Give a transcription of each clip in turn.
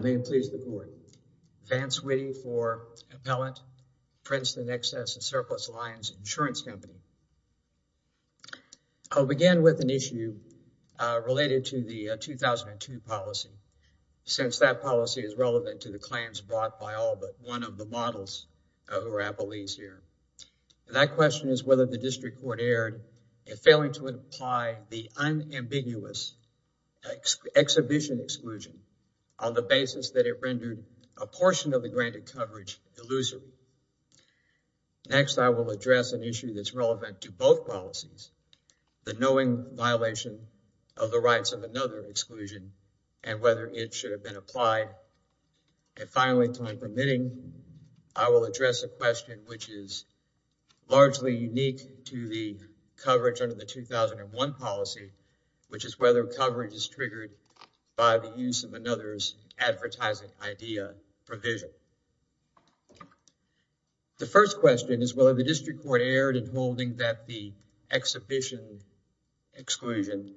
May it please the board, Vance Witte for Appellant, Princeton Excess and Surplus Alliance Insurance Company. I'll begin with an issue related to the 2002 policy, since that policy is relevant to the claims brought by all but one of the models who are appellees here. That question is whether the district court erred in failing to imply the unambiguous exhibition exclusion on the basis that it rendered a portion of the granted coverage illusory. Next, I will address an issue that's relevant to both policies, the knowing violation of the rights of another exclusion and whether it should have been applied. And finally, time permitting, I will address a question which is largely unique to the coverage under the 2001 policy, which is whether coverage is triggered by the use of another's advertising idea provision. The first question is whether the district court erred in holding that the exhibition exclusion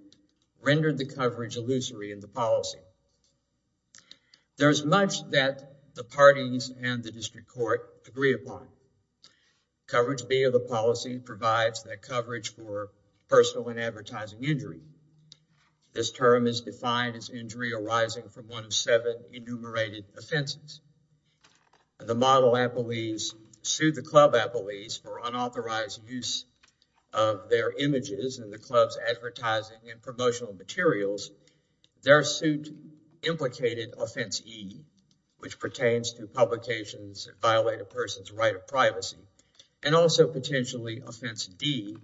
rendered the coverage illusory in the policy. There's much that the parties and the district court agree upon. Coverage B of the policy provides that coverage for personal and advertising injury. This term is defined as injury arising from one of seven enumerated offenses. The model appellees sued the club appellees for unauthorized use of their images in the club's advertising and promotional materials. Their suit implicated offense E, which pertains to publications that violate a person's right of privacy, and also potentially offense D,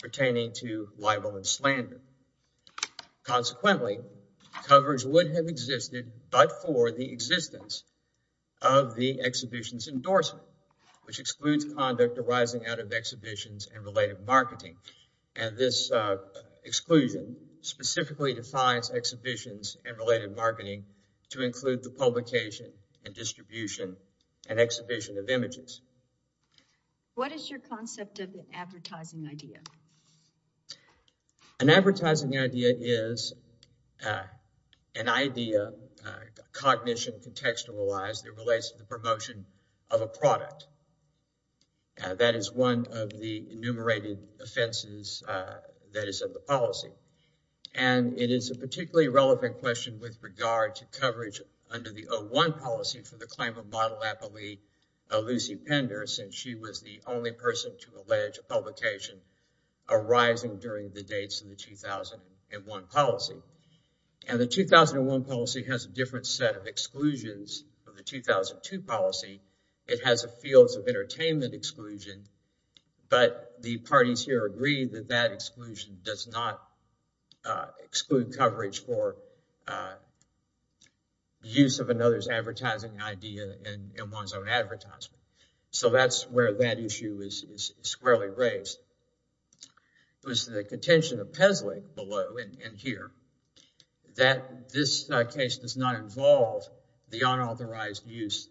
pertaining to libel and slander. Consequently, coverage would have existed but for the existence of the exhibition's endorsement, which excludes conduct arising out of exhibitions and related marketing. And this exclusion specifically defines exhibitions and related marketing to include the publication and distribution and exhibition of images. What is your concept of advertising idea? An advertising idea is an idea, cognition, contextualized that relates to the promotion of a product. That is one of the enumerated offenses that is in the policy. And it is a particularly relevant question with regard to coverage under the 01 policy for the claim of model appellee Lucy Pender since she was the only person to allege a publication arising during the 2001 policy. And the 2001 policy has a different set of exclusions from the 2002 policy. It has a fields of entertainment exclusion, but the parties here agree that that exclusion does not exclude coverage for use of another's advertising idea in one's own advertisement. So that's where that issue is squarely raised. It was the contention of Pesley below in here that this case does not involve the unauthorized use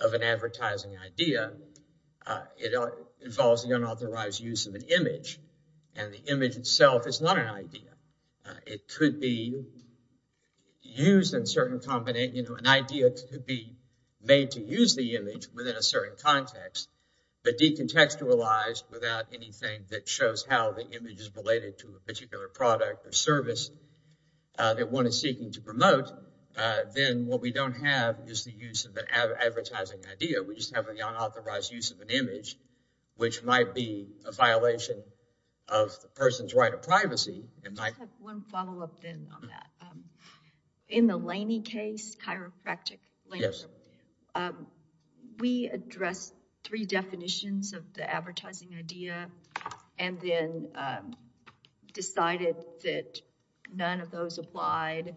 of an advertising idea. It involves the unauthorized use of an image and the image itself is not an idea. It could be used in a certain context, but decontextualized without anything that shows how the image is related to a particular product or service that one is seeking to promote, then what we don't have is the use of an advertising idea. We just have the unauthorized use of an image, which might be a violation of the person's right of privacy. I have one follow-up then on that. In the Laney case, chiropractic Laney, we addressed three definitions of the advertising idea and then decided that none of those applied.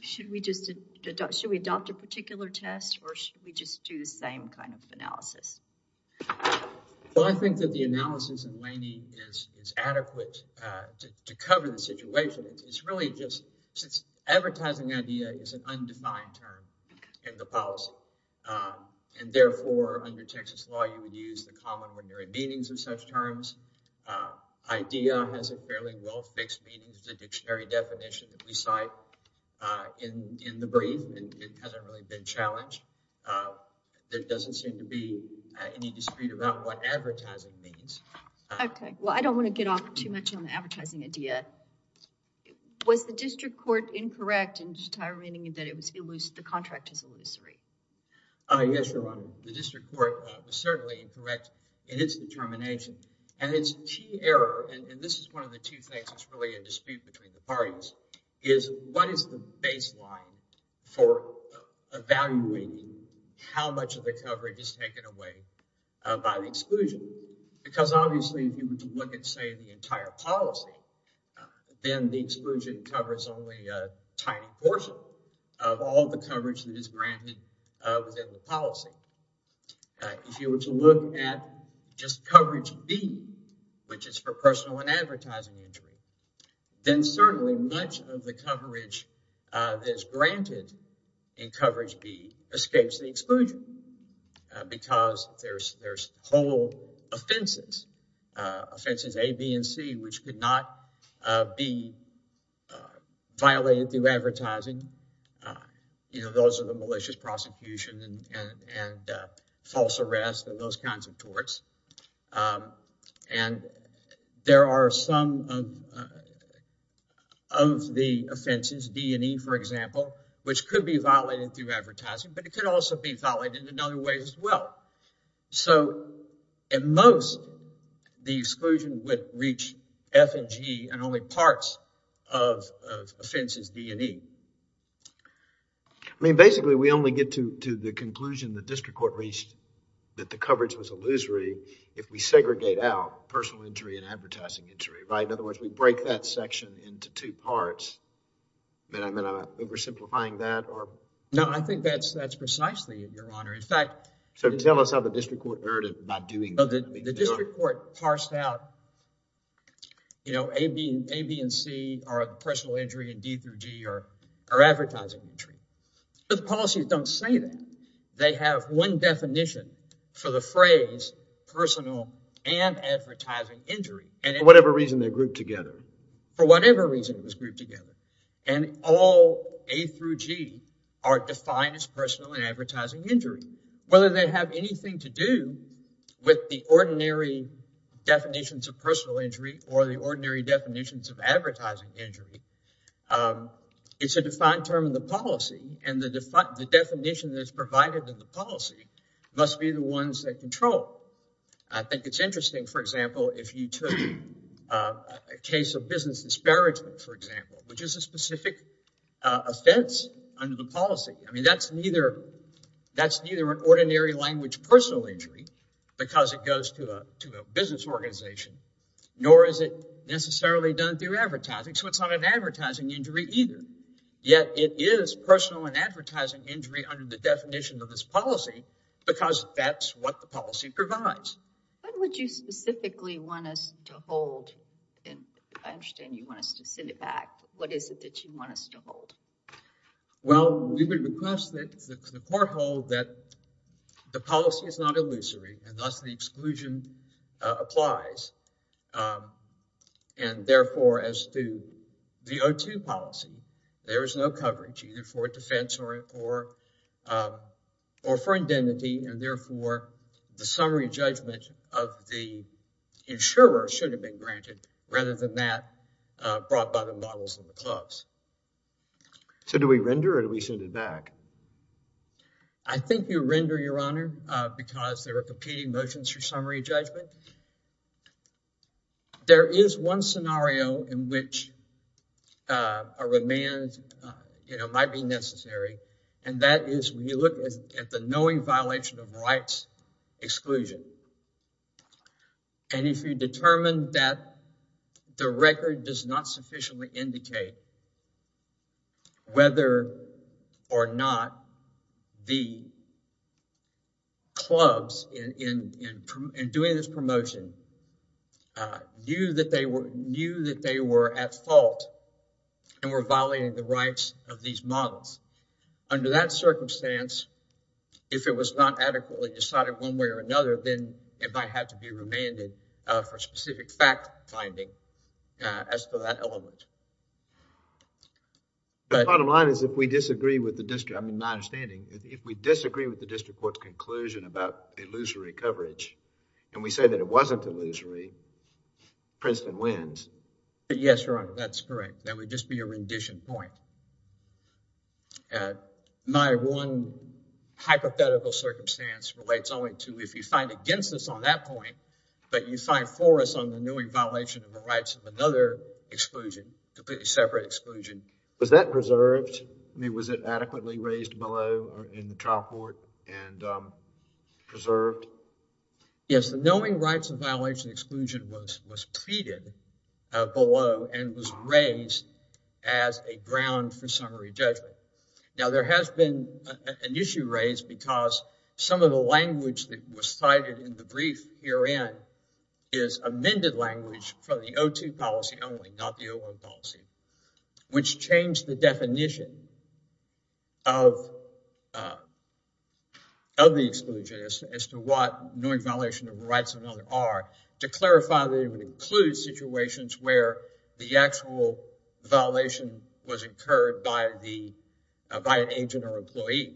Should we just adopt, should we adopt a particular test or should we just do the same kind of analysis? Well, I think that the analysis in Laney is adequate to cover the situation. It's really just, since advertising idea is an undefined term in the policy and therefore under Texas law, you would use the common when you're in meetings of such terms. Idea has a fairly well-fixed meaning. It's a dictionary definition that we cite in the brief. It hasn't really been challenged. There doesn't seem to be any dispute about what advertising means. Okay. Well, I don't want to get off too much on the advertising idea. Was the district court incorrect in determining that the contract is illusory? Yes, Your Honor. The district court was certainly incorrect in its determination. And its key error, and this is one of the two things that's really a dispute between the parties, is what is the baseline for evaluating how much of the coverage is taken away by the exclusion? Because, obviously, if you were to look at, say, the entire policy, then the exclusion covers only a tiny portion of all the coverage that is granted within the policy. If you were to look at just coverage B, which is for personal and advertising injury, then certainly much of the coverage that is granted in coverage B escapes the exclusion because there's whole offenses, offenses A, B, and C, which could not be violated through advertising. You know, those are the malicious prosecution and false arrest and those kinds of torts. And there are some of the offenses, D and E, for example, which could be violated through advertising, but it could also be violated in other ways as well. So, at most, the exclusion would reach F and G and only parts of offenses D and E. I mean, basically, we only get to the conclusion the district court reached that the coverage was illusory if we segregate out personal injury and advertising injury, right? In other words, we break that section into two parts. Am I oversimplifying that? No, I think that's precisely it, Your Honor. In fact… So, tell us how the district court erred in not doing that. The district court parsed out, you know, A, B, and C are personal injury and D through G are advertising injury. But the policies don't say that. They have one definition for the phrase personal and advertising injury. For whatever reason, they're grouped together. For whatever reason, it was grouped together. And all A through G are defined as personal and advertising injury. Whether they have anything to do with the ordinary definitions of personal injury or the ordinary definitions of advertising injury, it's a defined term in the policy and the definition that's provided in the policy must be the ones that control. I think it's interesting, for example, if you took a case of business disparagement, for example, which is a specific offense under the policy. I mean, that's neither an ordinary language personal injury because it goes to a business organization, nor is it necessarily done through advertising, so it's not an advertising injury either. Yet, it is personal and advertising injury under the definition of this policy because that's what the policy provides. What would you specifically want us to hold? I understand you want us to send it back. What is it that you want us to hold? Well, we would request that the court hold that the policy is not illusory and thus the therefore, as to the O2 policy, there is no coverage either for defense or for identity and therefore, the summary judgment of the insurer should have been granted rather than that brought by the models of the clubs. So, do we render or do we send it back? I think you render, Your Honor, because there are competing motions for summary judgment. There is one scenario in which a remand might be necessary and that is when you look at the knowing violation of rights exclusion and if you determine that the record does not sufficiently indicate whether or not the clubs in doing this promotion knew that they were at fault and were violating the rights of these models. Under that circumstance, if it was not adequately decided one way or another, then it might have to be remanded for specific fact finding as to that element. The bottom line is if we disagree with the district, I mean my understanding, if we disagree with the district court's conclusion about illusory coverage and we say that it wasn't illusory, Princeton wins. Yes, Your Honor, that's correct. That would just be a rendition point. My one hypothetical circumstance relates only to if you find against us on that point but you find for us on the knowing violation of the rights of another exclusion, a completely separate exclusion. Was that preserved? I mean, was it adequately raised below in the trial court and preserved? Yes, the knowing rights of violation exclusion was pleaded below and was raised as a ground for summary judgment. Now, there has been an issue raised because some of the language that was cited in the brief herein is amended language from the O2 policy only, not the O1 policy, which changed the definition of the exclusion as to what knowing violation of the rights of another are to clarify that it would include situations where the actual violation was incurred by an agent or employee.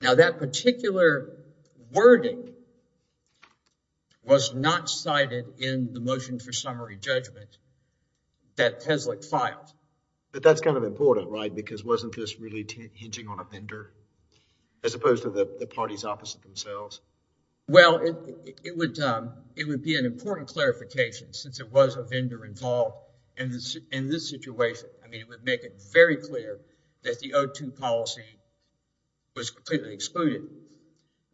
Now, that particular wording was not cited in the motion for summary judgment that Tesluk filed. But that's kind of important, right, because wasn't this really hinging on a vendor as opposed to the parties opposite themselves? Well, it would be an important clarification since it was a vendor involved in this situation. I mean, it would make it very clear that the O2 policy was completely excluded.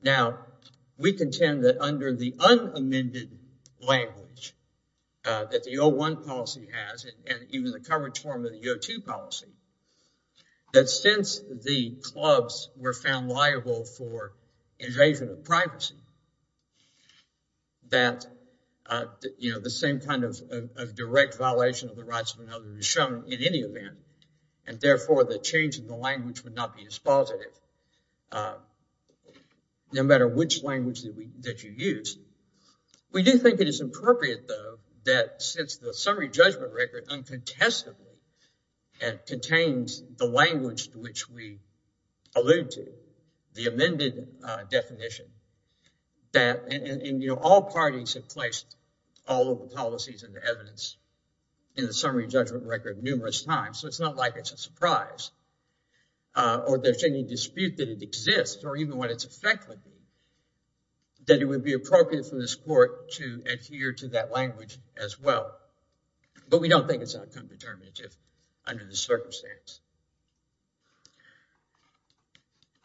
Now, we contend that under the unamended language that the O1 policy has and even the coverage form of the O2 policy, that since the clubs were found liable for invasion of privacy, that the same kind of direct violation of the rights of another is shown in any event and therefore the change in the language would not be as positive, no matter which language that you use. We do think it is appropriate, though, that since the summary judgment record uncontested and contains the language to which we allude to, the amended definition, that all parties have placed all of the policies and the evidence in the summary judgment record numerous times, so it's not like it's a surprise or there's any dispute that it exists or even what its effect would be, that it would be appropriate for this court to adhere to that language as well. But we don't think it's outcome determinative under this circumstance.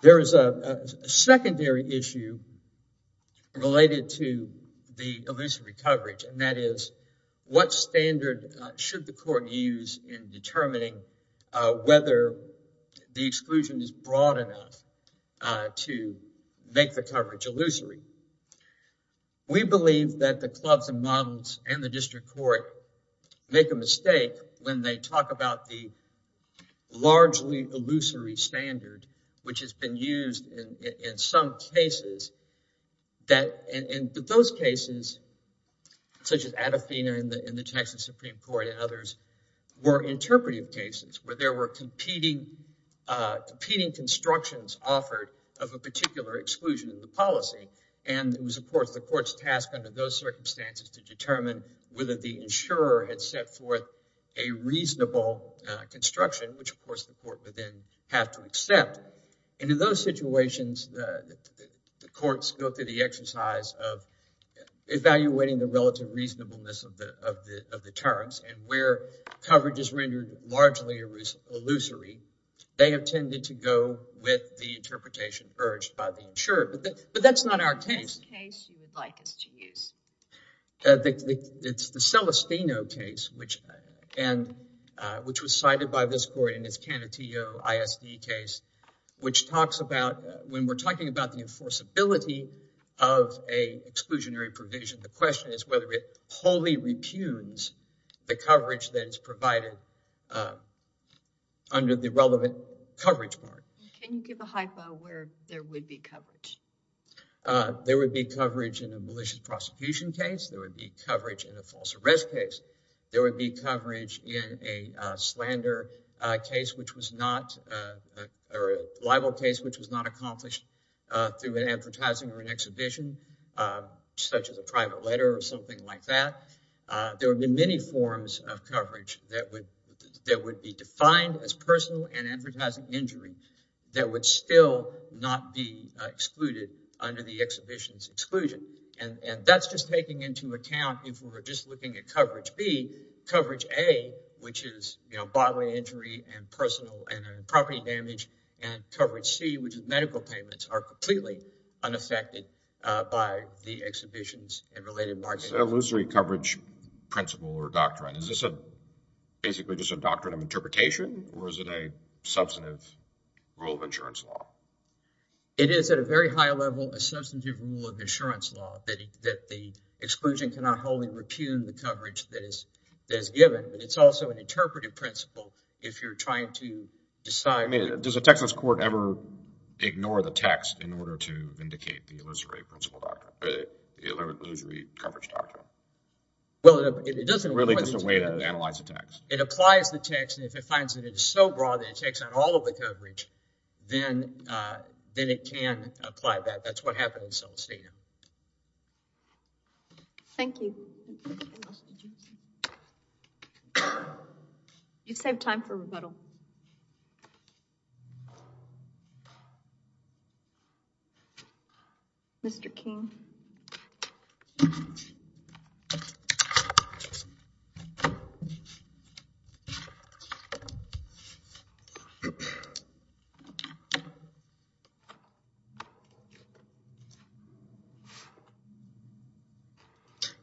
There is a secondary issue related to the illusory coverage, and that is what standard should the court use in determining whether the exclusion is broad enough to make the coverage illusory. We believe that the clubs and models and the district court make a mistake when they talk about the largely illusory standard, which has been used in some cases. Those cases, such as Adafina and the Texas Supreme Court and others, were interpretive cases where there were competing constructions offered of a particular exclusion in the policy, and it was, of course, the court's task under those circumstances to determine whether the insurer had set forth a reasonable construction, which, of course, the court would then have to accept. And in those situations, the courts go through the exercise of evaluating the relative reasonableness of the terms, and where coverage is rendered largely illusory, they have tended to go with the interpretation urged by the insurer. But that's not our case. It's the Celestino case, which was cited by this court in its Canutillo ISD case, which talks about, when we're talking about the enforceability of an exclusionary provision, the question is whether it wholly repudes the coverage that is provided under the relevant coverage part. Can you give a hypo where there would be coverage? There would be coverage in a malicious prosecution case. There would be coverage in a false arrest case. There would be coverage in a slander case, which was not, or a libel case, which was not accomplished through an advertising or an exhibition, such as a private letter or something like that. There would be many forms of coverage that would be defined as personal and advertising injury that would still not be excluded under the exhibition's exclusion. And that's just taking into account, if we were just looking at coverage B, coverage A, which is, you know, by-way injury and personal and property damage, and coverage C, which is medical payments, are completely unaffected by the exhibition's and related marketing. What is an illusory coverage principle or doctrine? Is this basically just a doctrine of interpretation, or is it a substantive rule of insurance law? It is at a very high level a substantive rule of insurance law that the exclusion cannot wholly repudiate the coverage that is given, but it's also an interpretive principle if you're trying to decide. I mean, does a Texas court ever ignore the text in order to vindicate the illusory coverage doctrine? Well, it doesn't require the text. It applies the text, and if it finds that it is so broad that it takes on all of the coverage, then it can apply that. That's what happens in some state. Thank you. Anyone else? You saved time for rebuttal. Mr. King. Thank you.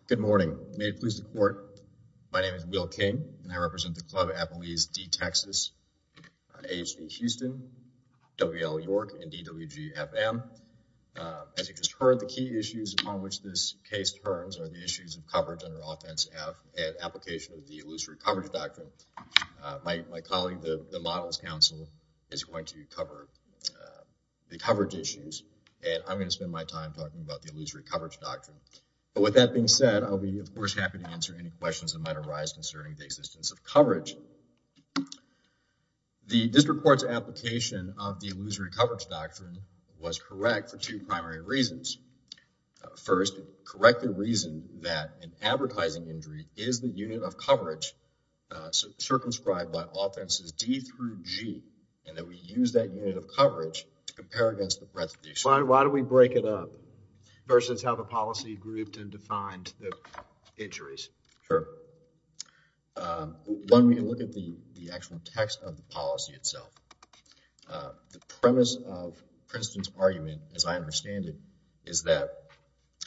Good morning. May it please the court, my name is Will King, and I represent the Club of Appalachia D-Texas, AHV Houston, WL York, and DWG FM. As you just heard, the key issues upon which this case turns are the issues of coverage under offense and application of the illusory coverage doctrine. My colleague, the Models Council, is going to cover the coverage issues, and I'm going to spend my time talking about the illusory coverage doctrine. But with that being said, I'll be, of course, concerning the existence of coverage. The district court's application of the illusory coverage doctrine was correct for two primary reasons. First, correct the reason that an advertising injury is the unit of coverage circumscribed by offenses D through G, and that we use that unit of coverage to compare against the resolution. Why don't we break it up versus how the policy grouped and defined the injuries? Sure. One, we can look at the actual text of the policy itself. The premise of Princeton's argument, as I understand it, is that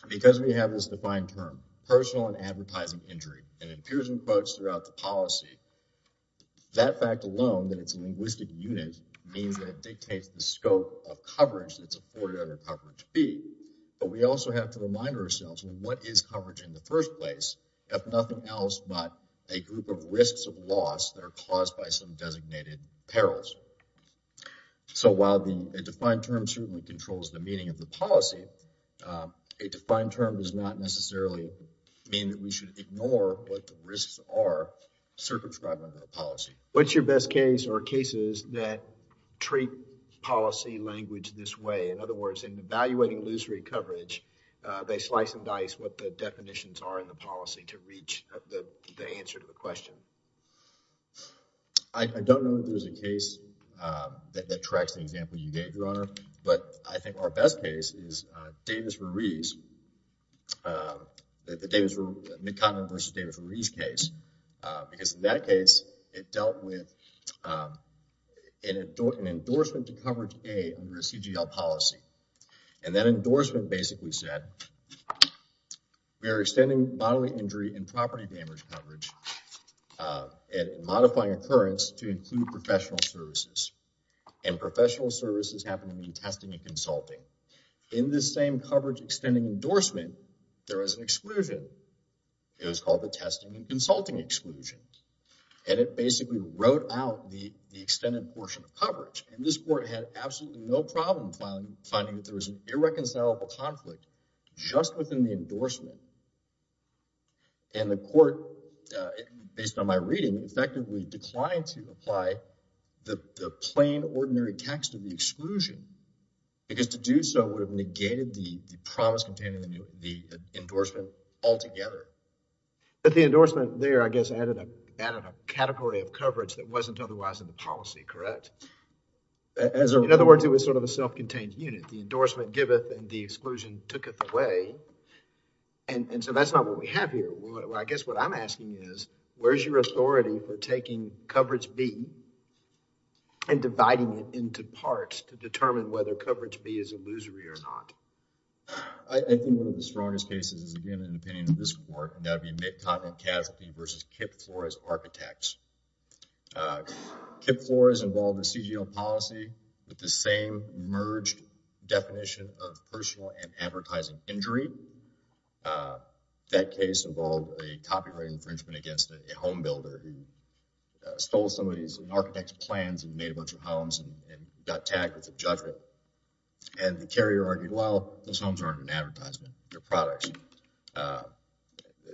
because we have this defined term, personal and advertising injury, and it appears in quotes throughout the policy, that fact alone, that it's a linguistic unit, means that it dictates the scope of coverage that's afforded under coverage B. But we also have to remind ourselves, what is coverage in the first place? If nothing else but a group of risks of loss that are caused by some designated perils. So while a defined term certainly controls the meaning of the policy, a defined term does not necessarily mean that we should ignore what the risks are circumscribed under the policy. What's your best case or cases that treat policy language this way? In other words, in evaluating illusory coverage, they slice and dice what the definitions are in the policy to reach the answer to the question. I don't know if there's a case that tracks the example you gave, Your Honor. But I think our best case is Davis-Ruiz, the McConnell versus Davis-Ruiz case. Because in that case, it dealt with an endorsement to coverage A under the CGL policy. And that endorsement basically said, we are extending bodily injury and property damage coverage and modifying occurrence to include professional services. And professional services happen to be testing and consulting. In this same coverage extending endorsement, there was an exclusion. It was called the testing and consulting exclusion. And it basically wrote out the extended portion of coverage. And this court had absolutely no problem finding that there was an irreconcilable conflict just within the endorsement. And the court, based on my reading, effectively declined to apply the plain, ordinary text of the exclusion. Because to do so would have negated the promise contained in the endorsement altogether. But the endorsement there, I guess, added a category of coverage that wasn't otherwise in the policy, correct? In other words, it was sort of a self-contained unit. The endorsement giveth and the exclusion tooketh away. And so that's not what we have here. I guess what I'm asking is, where's your authority for taking coverage B and dividing it into parts to determine whether coverage B is illusory or not? I think one of the strongest cases is, again, in the opinion of this court, and that would be Kip Flores involved a CGO policy with the same merged definition of personal and advertising injury. That case involved a copyright infringement against a home builder who stole somebody's architect's plans and made a bunch of homes and got tagged with a judgment. And the carrier argued, well, those homes aren't an advertisement. They're products.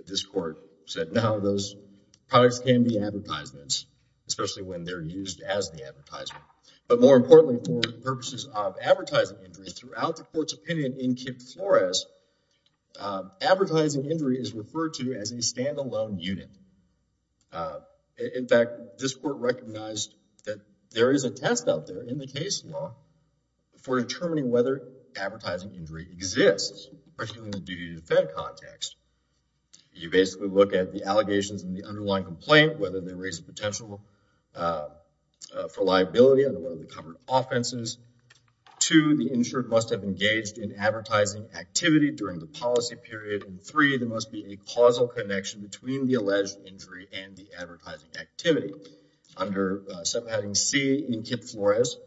This court said, no, those products can be advertisements, especially when they're used as the advertisement. But more importantly, for purposes of advertising injury, throughout the court's opinion in Kip Flores, advertising injury is referred to as a stand-alone unit. In fact, this court recognized that there is a test out there in the case law for determining whether advertising injury exists, particularly in the duty-to-defend context. You basically look at the allegations in the underlying complaint, whether they raise the potential for liability, and whether they cover offenses. Two, the insured must have engaged in advertising activity during the policy period. And three, there must be a causal connection between the alleged injury and the advertising activity. Under subheading C in Kip Flores,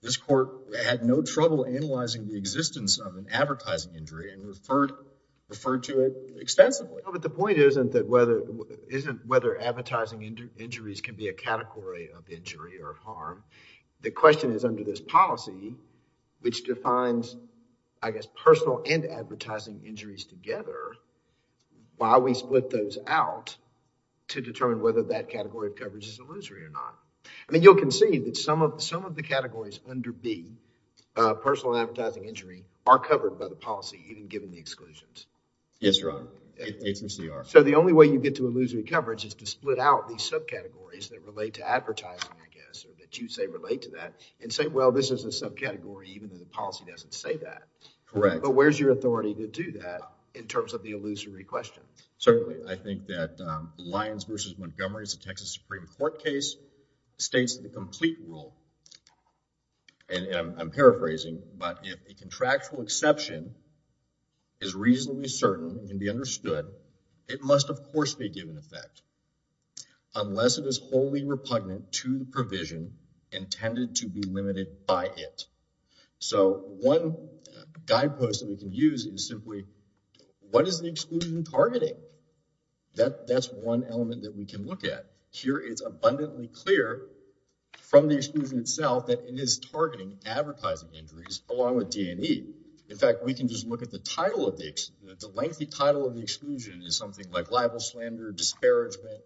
this court had no trouble analyzing the existence of an advertising injury and referred to it extensively. But the point isn't whether advertising injuries can be a category of injury or harm. The question is under this policy, which defines, I guess, personal and advertising injuries together, why we split those out to determine whether that category of coverage is illusory or not. I mean, you'll concede that some of the categories under B, personal and advertising injury, are covered by the policy even given the exclusions. Yes, Your Honor. It's in CR. So the only way you get to illusory coverage is to split out these subcategories that relate to advertising, I guess, or that you say relate to that, and say, well, this is a subcategory even though the policy doesn't say that. Correct. But where's your authority to do that in terms of the illusory question? Certainly. I think that Lyons v. Montgomery is a Texas Supreme Court case. It states the complete rule, and I'm paraphrasing, but if a contractual exception is reasonably certain and can be understood, it must, of course, be given effect unless it is wholly repugnant to the provision intended to be limited by it. So one guidepost that we can use is simply, what is the exclusion targeting? That's one element that we can look at. Here it's abundantly clear from the exclusion itself that it is targeting advertising injuries along with D&E. In fact, we can just look at the title of the exclusion. The lengthy title of the exclusion is something like libel, slander, disparagement,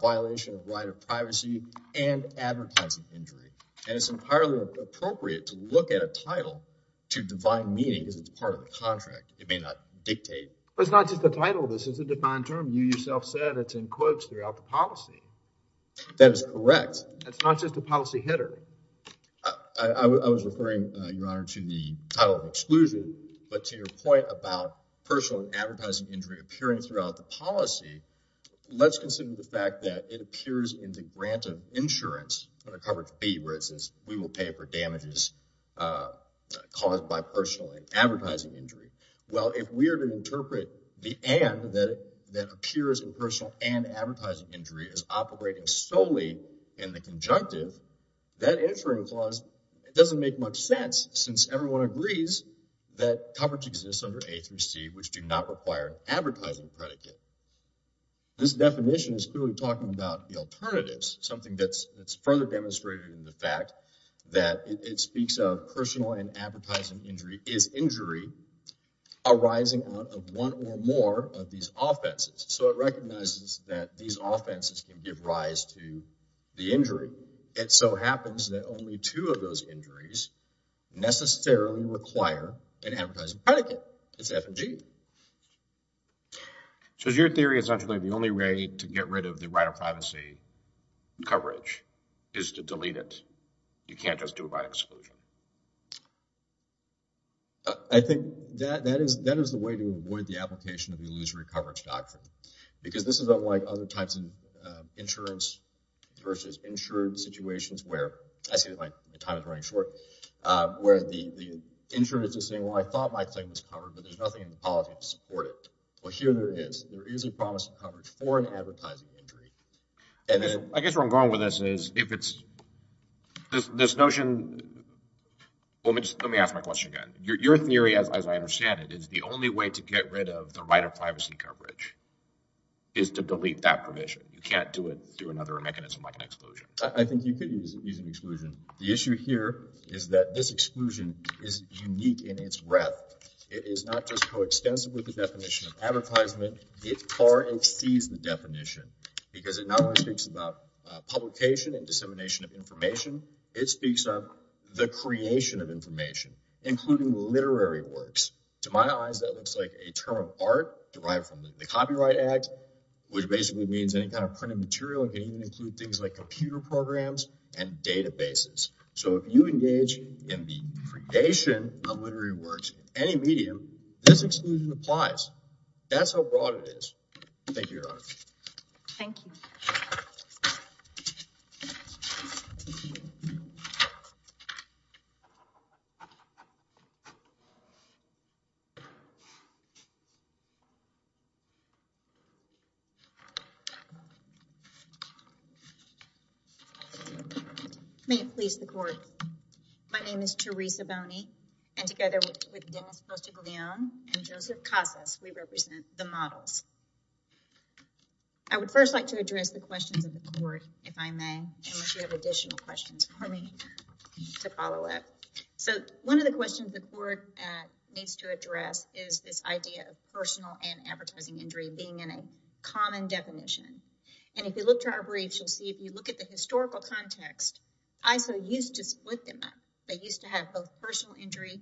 violation of right of privacy, and advertising injury. And it's entirely appropriate to look at a title to define meaning because it's part of a contract. It may not dictate. It's not just a title. This is a defined term. You yourself said it's in quotes throughout the policy. That is correct. It's not just a policy header. I was referring, Your Honor, to the title of exclusion, but to your point about personal and advertising injury appearing throughout the policy, let's consider the fact that it appears in the grant of insurance under coverage B where it says we will pay for damages caused by personal and advertising injury. Well, if we are to interpret the and that appears in personal and advertising injury as operating solely in the conjunctive, that insurance clause doesn't make much sense since everyone agrees that coverage exists under A through C which do not require an advertising predicate. This definition is clearly talking about the alternatives, something that's further demonstrated in the fact that it speaks of is injury arising out of one or more of these offenses. So it recognizes that these offenses can give rise to the injury. It so happens that only two of those injuries necessarily require an advertising predicate. It's F and G. So is your theory essentially the only way to get rid of the right of privacy coverage is to delete it? You can't just do it by exclusion. I think that is the way to avoid the application of the illusory coverage doctrine because this is unlike other types of insurance versus insured situations where I see that my time is running short, where the insurance is saying, well, I thought my claim was covered, but there's nothing in the policy to support it. Well, here there is. There is a promise of coverage for an advertising injury. I guess where I'm going with this is if it's this notion... Let me ask my question again. Your theory, as I understand it, is the only way to get rid of the right of privacy coverage is to delete that provision. You can't do it through another mechanism like an exclusion. I think you could use an exclusion. The issue here is that this exclusion is unique in its breadth. It is not just coextensive with the definition of advertisement. It far exceeds the definition because it not only speaks about publication and dissemination of information, it speaks of the creation of information, including literary works. To my eyes, that looks like a term of art derived from the Copyright Act, which basically means any kind of printed material can even include things like computer programs and databases. So if you engage in the creation of literary works in any medium, this exclusion applies. That's how broad it is. Thank you, Your Honor. Thank you. May it please the Court. My name is Teresa Boney, and together with Dennis Postiglione and Joseph Casas, we represent The Models. I would first like to address the questions of the Court, if I may, unless you have additional questions for me to follow up. So one of the questions the Court needs to address is this idea of personal and advertising injury being in a common definition. And if you look to our briefs, you'll see if you look at the historical context, ISO used to split them up. They used to have both personal injury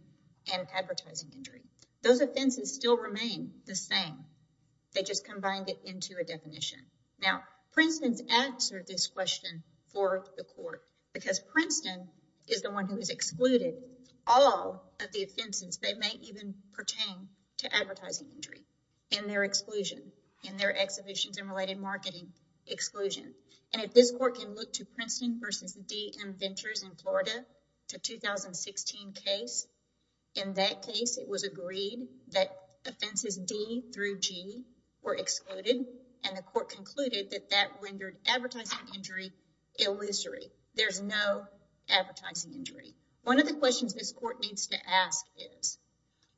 and advertising injury. Those offenses still remain the same. They just combined it into a definition. Now, Princeton's answered this question for the Court because Princeton is the one who has excluded all of the offenses that may even pertain to advertising injury in their exclusion, in their exhibitions and related marketing exclusion. And if this Court can look to Princeton v. D.M. Ventures in Florida, the 2016 case, in that case it was agreed that offenses D through G were excluded, and the Court concluded that that rendered advertising injury illusory. There's no advertising injury. One of the questions this Court needs to ask is,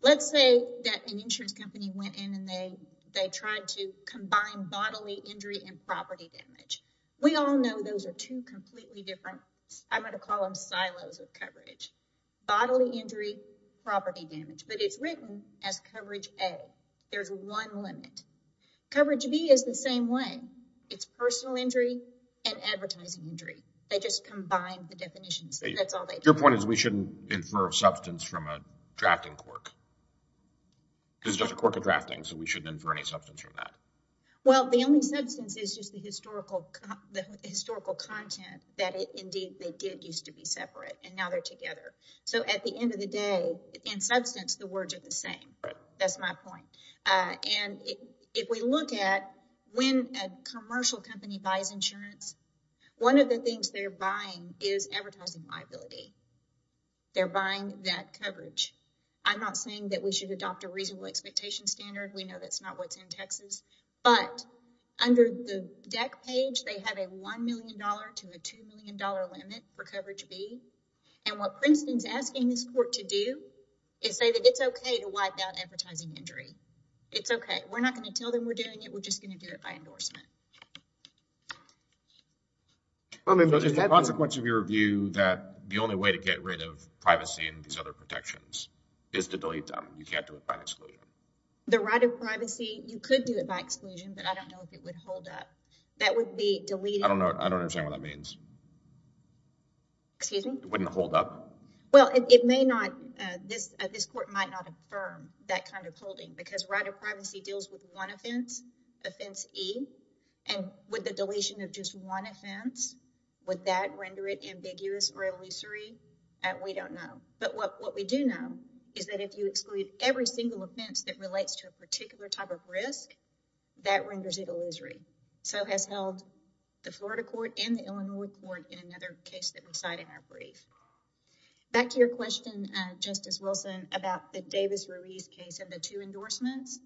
let's say that an insurance company went in and they tried to combine bodily injury and property damage. We all know those are two completely different, I'm going to call them silos of coverage, bodily injury, property damage. But it's written as coverage A. There's one limit. Coverage B is the same way. It's personal injury and advertising injury. They just combined the definitions. That's all they do. Your point is we shouldn't infer substance from a drafting quirk. It's just a quirk of drafting, so we shouldn't infer any substance from that. Well, the only substance is just the historical content that indeed they did used to be separate, and now they're together. So at the end of the day, in substance, the words are the same. That's my point. And if we look at when a commercial company buys insurance, one of the things they're buying is advertising liability. They're buying that coverage. I'm not saying that we should adopt a reasonable expectation standard. We know that's not what's in Texas. But under the DEC page, they have a $1 million to a $2 million limit for coverage B. And what Princeton's asking this court to do is say that it's okay to wipe out advertising injury. It's okay. We're not going to tell them we're doing it. We're just going to do it by endorsement. Just the consequence of your view that the only way to get rid of privacy and these other protections is to delete them. You can't do it by exclusion. The right of privacy, you could do it by exclusion, but I don't know if it would hold up. That would be deleting... I don't understand what that means. Excuse me? It wouldn't hold up? Well, it may not. This court might not affirm that kind of holding because right of privacy deals with one offense, offense E, and with the deletion of just one offense, would that render it ambiguous or illusory? We don't know. But what we do know is that if you exclude every single offense that relates to a particular type of risk, that renders it illusory. So has held the Florida court and the Illinois court in another case that we cite in our brief. Back to your question, Justice Wilson, about the Davis-Ruiz case and the two endorsements.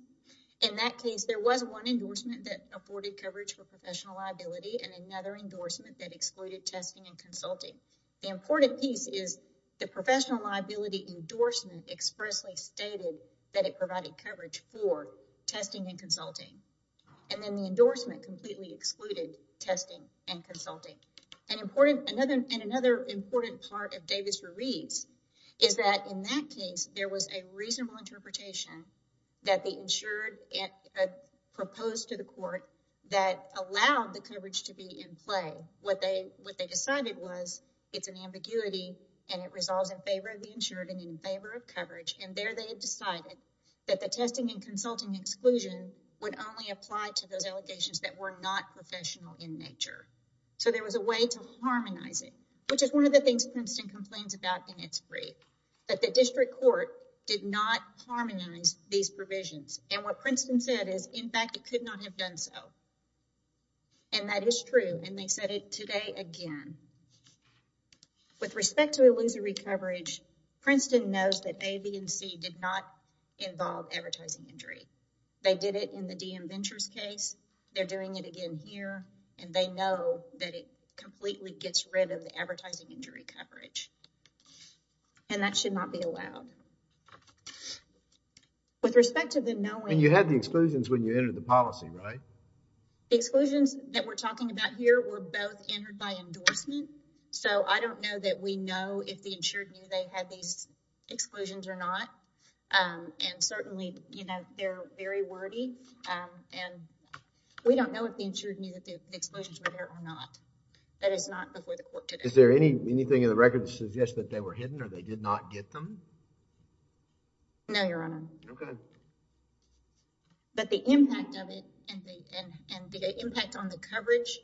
In that case, there was one endorsement that afforded coverage for professional liability and another endorsement that excluded testing and consulting. The important piece is the professional liability endorsement expressly stated that it provided coverage for testing and consulting. And then the endorsement completely excluded testing and consulting. And another important part of Davis-Ruiz is that in that case, there was a reasonable interpretation that the insured proposed to the court that allowed the coverage to be in play. What they decided was it's an ambiguity and it resolves in favor of the insured and in favor of coverage. And there they decided that the testing and consulting exclusion would only apply to those allegations that were not professional in nature. So there was a way to harmonize it, which is one of the things Princeton complains about in its brief, that the district court did not harmonize these provisions. And what Princeton said is, in fact, it could not have done so. And that is true. And they said it today again. With respect to illusory coverage, Princeton knows that A, B, and C did not involve advertising injury. They did it in the DM Ventures case. They're doing it again here. And they know that it completely gets rid of the advertising injury coverage. And that should not be allowed. With respect to the knowing... And you had the exclusions when you entered the policy, right? The exclusions that we're talking about here were both entered by endorsement. So I don't know that we know if the insured knew they had these exclusions or not. And certainly, you know, they're very wordy. And we don't know if the insured knew that the exclusions were there or not. That is not before the court today. Is there anything in the record that suggests that they were hidden or they did not get them? No, Your Honor. Okay. But the impact of it and the impact on the coverage,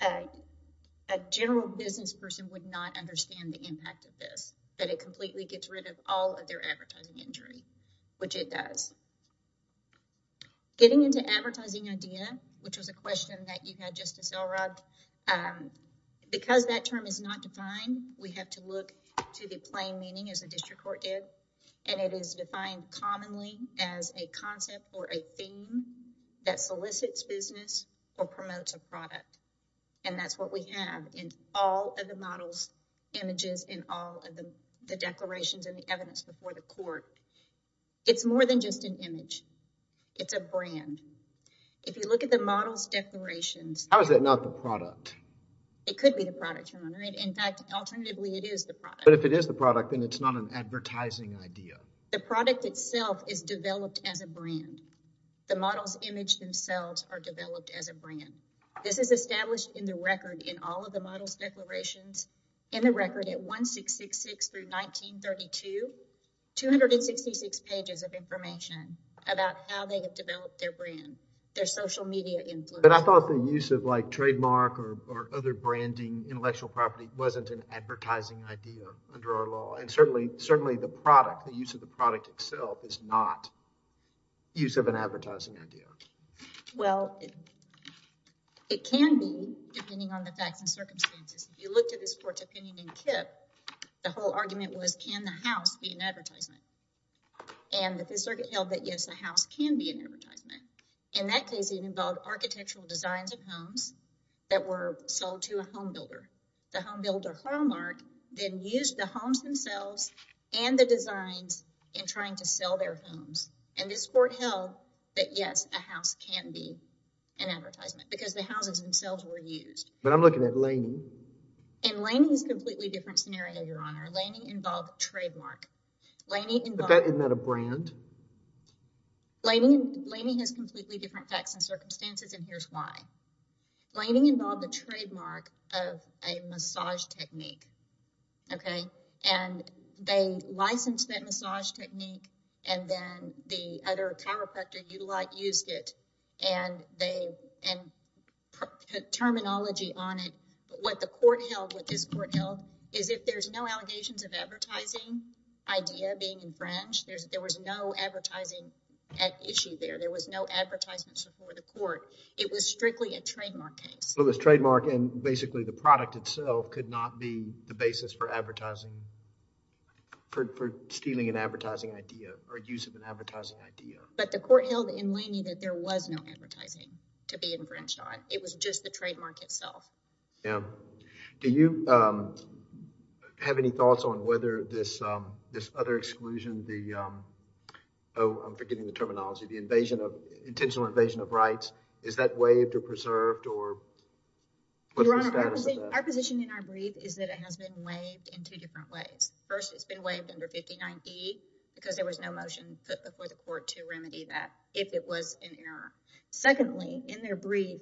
a general business person would not understand the impact of this. That it completely gets rid of all of their advertising injury, which it does. Getting into advertising idea, which was a question that you had, Justice Elrod, because that term is not defined, we have to look to the plain meaning as the district court did. And it is defined commonly as a concept or a theme that solicits business or promotes a product. And that's what we have in all of the models, images in all of the declarations and the evidence before the court. It's more than just an image. It's a brand. If you look at the models declarations... How is that not the product? It could be the product, Your Honor. In fact, alternatively, it is the product. But if it is the product, then it's not an advertising idea. The product itself is developed as a brand. The models image themselves are developed as a brand. This is established in the record in all of the models declarations. In the record at 1666 through 1932, 266 pages of information about how they have developed their brand, their social media influence. But I thought the use of like trademark or other branding intellectual property wasn't an advertising idea under our law. And certainly the product, the use of the product itself, is not use of an advertising idea. Well, it can be depending on the facts and circumstances. If you looked at this court's opinion in Kip, the whole argument was can the house be an advertisement? And the circuit held that yes, a house can be an advertisement. In that case, it involved architectural designs of homes that were sold to a home builder. The home builder, Hallmark, then used the homes themselves and the designs in trying to sell their homes. And this court held that yes, a house can be an advertisement because the houses themselves were used. But I'm looking at Laney. And Laney is a completely different scenario, Your Honor. Laney involved trademark. But isn't that a brand? Laney has completely different facts and circumstances, and here's why. Laney involved a trademark of a massage technique. Okay? And they licensed that massage technique, and then the other chiropractor, Utilite, used it. And they put terminology on it. What the court held, what this court held, is if there's no allegations of advertising idea being infringed, There was no advertisement before the court. It was strictly a trademark case. It was trademark, and basically the product itself could not be the basis for advertising, for stealing an advertising idea or use of an advertising idea. But the court held in Laney that there was no advertising to be infringed on. It was just the trademark itself. Yeah. Do you have any thoughts on whether this other exclusion, the, oh, I'm forgetting the terminology, the intentional invasion of rights, is that waived or preserved, or what's the status of that? Your Honor, our position in our brief is that it has been waived in two different ways. First, it's been waived under 59E, because there was no motion put before the court to remedy that if it was in error. Secondly, in their brief,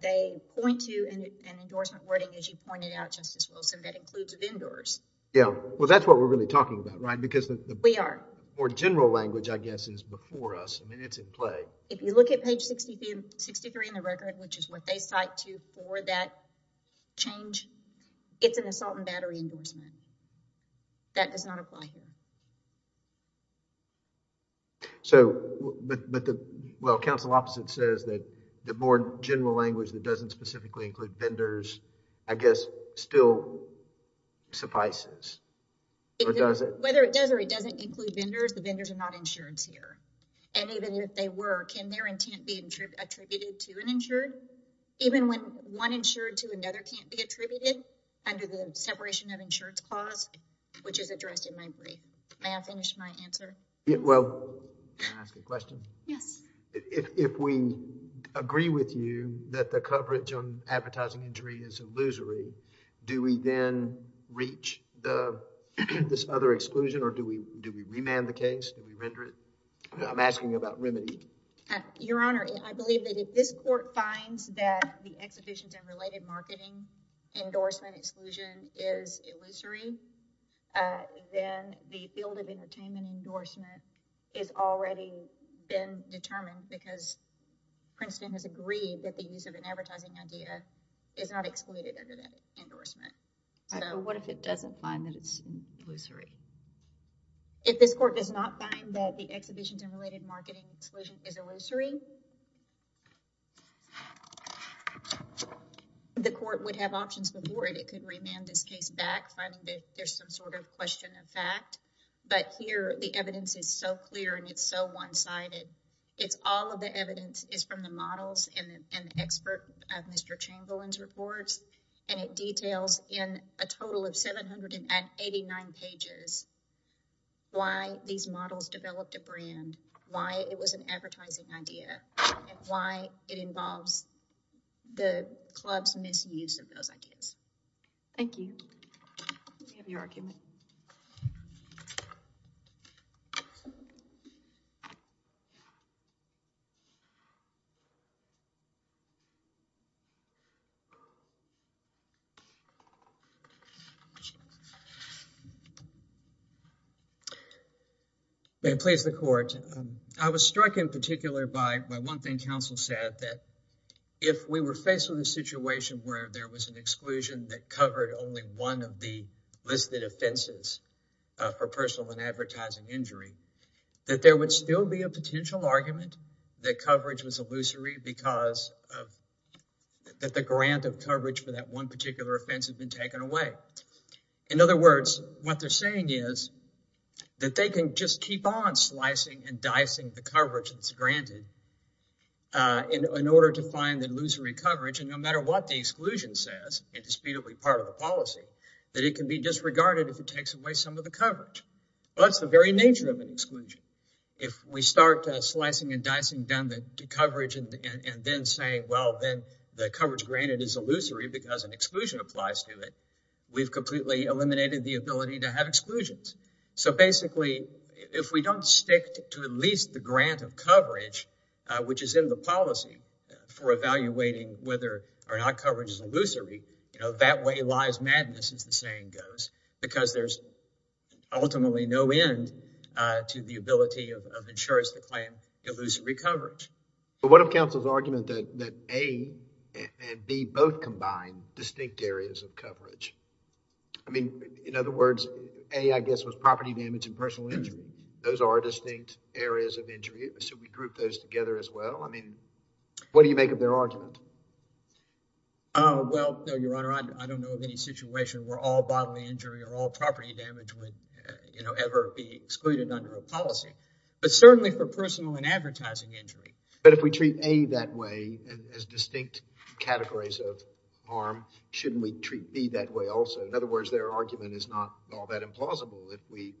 they point to an endorsement wording, as you pointed out, Justice Wilson, that includes vendors. Yeah. Well, that's what we're really talking about, right? We are. The more general language, I guess, is before us. I mean, it's in play. If you look at page 63 in the record, which is what they cite to for that change, it's an assault and battery endorsement. That does not apply here. So, but the, well, counsel opposite says that the more general language that doesn't specifically include vendors, I guess, still suffices. Or does it? Whether it does or it doesn't include vendors, the vendors are not insured here. And even if they were, can their intent be attributed to an insured? Even when one insured to another can't be attributed under the separation of insured clause, which is addressed in my brief. May I finish my answer? Well, can I ask a question? Yes. If we agree with you that the coverage on advertising injury is illusory, do we then reach this other exclusion or do we remand the case? Do we render it? I'm asking about remedy. Your Honor, I believe that if this court finds that the exhibitions and related marketing endorsement exclusion is illusory, then the field of entertainment endorsement is already been determined because Princeton has agreed that the use of an advertising idea is not excluded under that endorsement. What if it doesn't find that it's illusory? If this court does not find that the exhibitions and related marketing exclusion is illusory, the court would have options before it. It could remand this case back, finding that there's some sort of question of fact. But here, the evidence is so clear and it's so one-sided. It's all of the evidence is from the models and the expert of Mr. Chamberlain's reports and it details in a total of 789 pages why these models developed a brand, why it was an advertising idea, and why it involves the club's misuse of those ideas. Thank you. Do you have your argument? Thank you. May it please the court. I was struck in particular by one thing counsel said, that if we were faced with a situation where there was an exclusion that covered only one of the listed offenses for personal and advertising injury, that there would still be a potential argument that coverage was illusory because the grant of coverage for that one particular offense had been taken away. In other words, what they're saying is that they can just keep on slicing and dicing the coverage that's granted in order to find the illusory coverage and no matter what the exclusion says, it is part of the policy, that it can be disregarded if it takes away some of the coverage. That's the very nature of an exclusion. If we start slicing and dicing down the coverage and then say, well, then the coverage granted is illusory because an exclusion applies to it, we've completely eliminated the ability to have exclusions. So basically, if we don't stick to at least the grant of coverage, which is in the policy for evaluating whether or not coverage is illusory, that way lies madness, as the saying goes, because there's ultimately no end to the ability of insurers to claim illusory coverage. But what of counsel's argument that A and B both combine distinct areas of coverage? I mean, in other words, A, I guess, was property damage and personal injury. Those are distinct areas of injury, so we group those together as well. I mean, what do you make of their argument? Well, no, Your Honor, I don't know of any situation where all bodily injury or all property damage would ever be excluded under a policy. But certainly for personal and advertising injury. But if we treat A that way as distinct categories of harm, shouldn't we treat B that way also? In other words, their argument is not all that implausible if we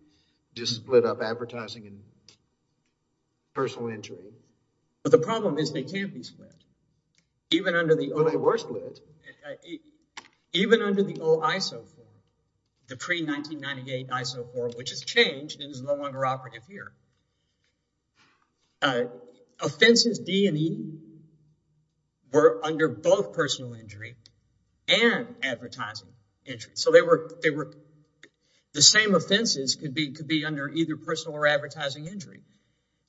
just split up advertising and personal injury. But the problem is they can't be split. But they were split. Even under the old ISO form, the pre-1998 ISO form, which has changed and is no longer operative here, offenses D and E were under both personal injury and advertising injury. So the same offenses could be under either personal or advertising injury.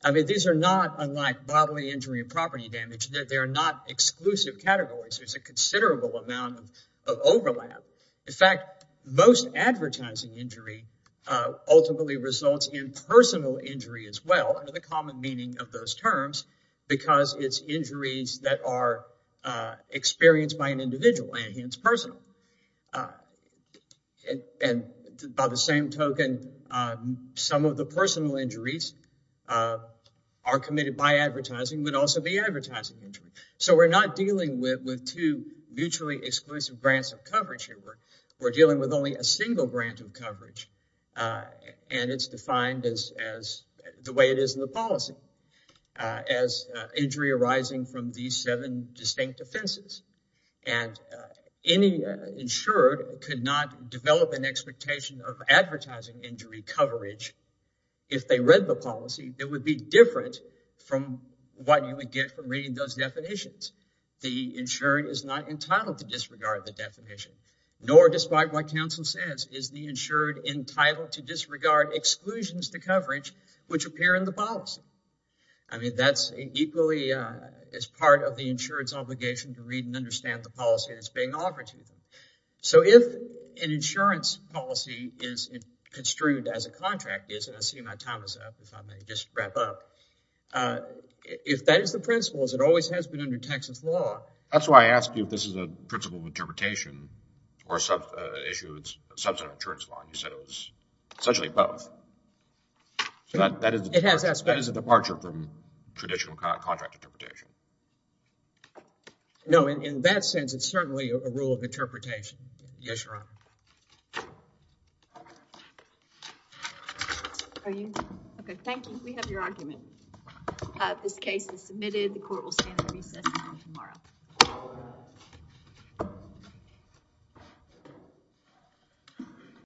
I mean, these are not unlike bodily injury and property damage. They are not exclusive categories. There's a considerable amount of overlap. In fact, most advertising injury ultimately results in personal injury as well, under the common meaning of those terms, because it's injuries that are experienced by an individual and hence personal. And by the same token, some of the personal injuries are committed by advertising but also by advertising injury. So we're not dealing with two mutually exclusive grants of coverage here. We're dealing with only a single grant of coverage. And it's defined as the way it is in the policy, as injury arising from these seven distinct offenses. And any insured could not develop an expectation of advertising injury coverage if they read the policy. It would be different from what you would get from reading those definitions. The insured is not entitled to disregard the definition, nor, despite what counsel says, is the insured entitled to disregard exclusions to coverage which appear in the policy. I mean, that's equally as part of the insured's obligation to read and understand the policy that's being offered to them. So if an insurance policy is construed as a contract, and I see my time is up, if I may just wrap up, if that is the principle, as it always has been under Texas law... That's why I asked you if this is a principle of interpretation or an issue of substantive insurance law, and you said it was essentially both. It has aspects. So that is a departure from traditional contract interpretation. No, in that sense, it's certainly a rule of interpretation. Yes, Your Honor. Okay, thank you. We have your argument. This case is submitted. The court will stand at recess until tomorrow.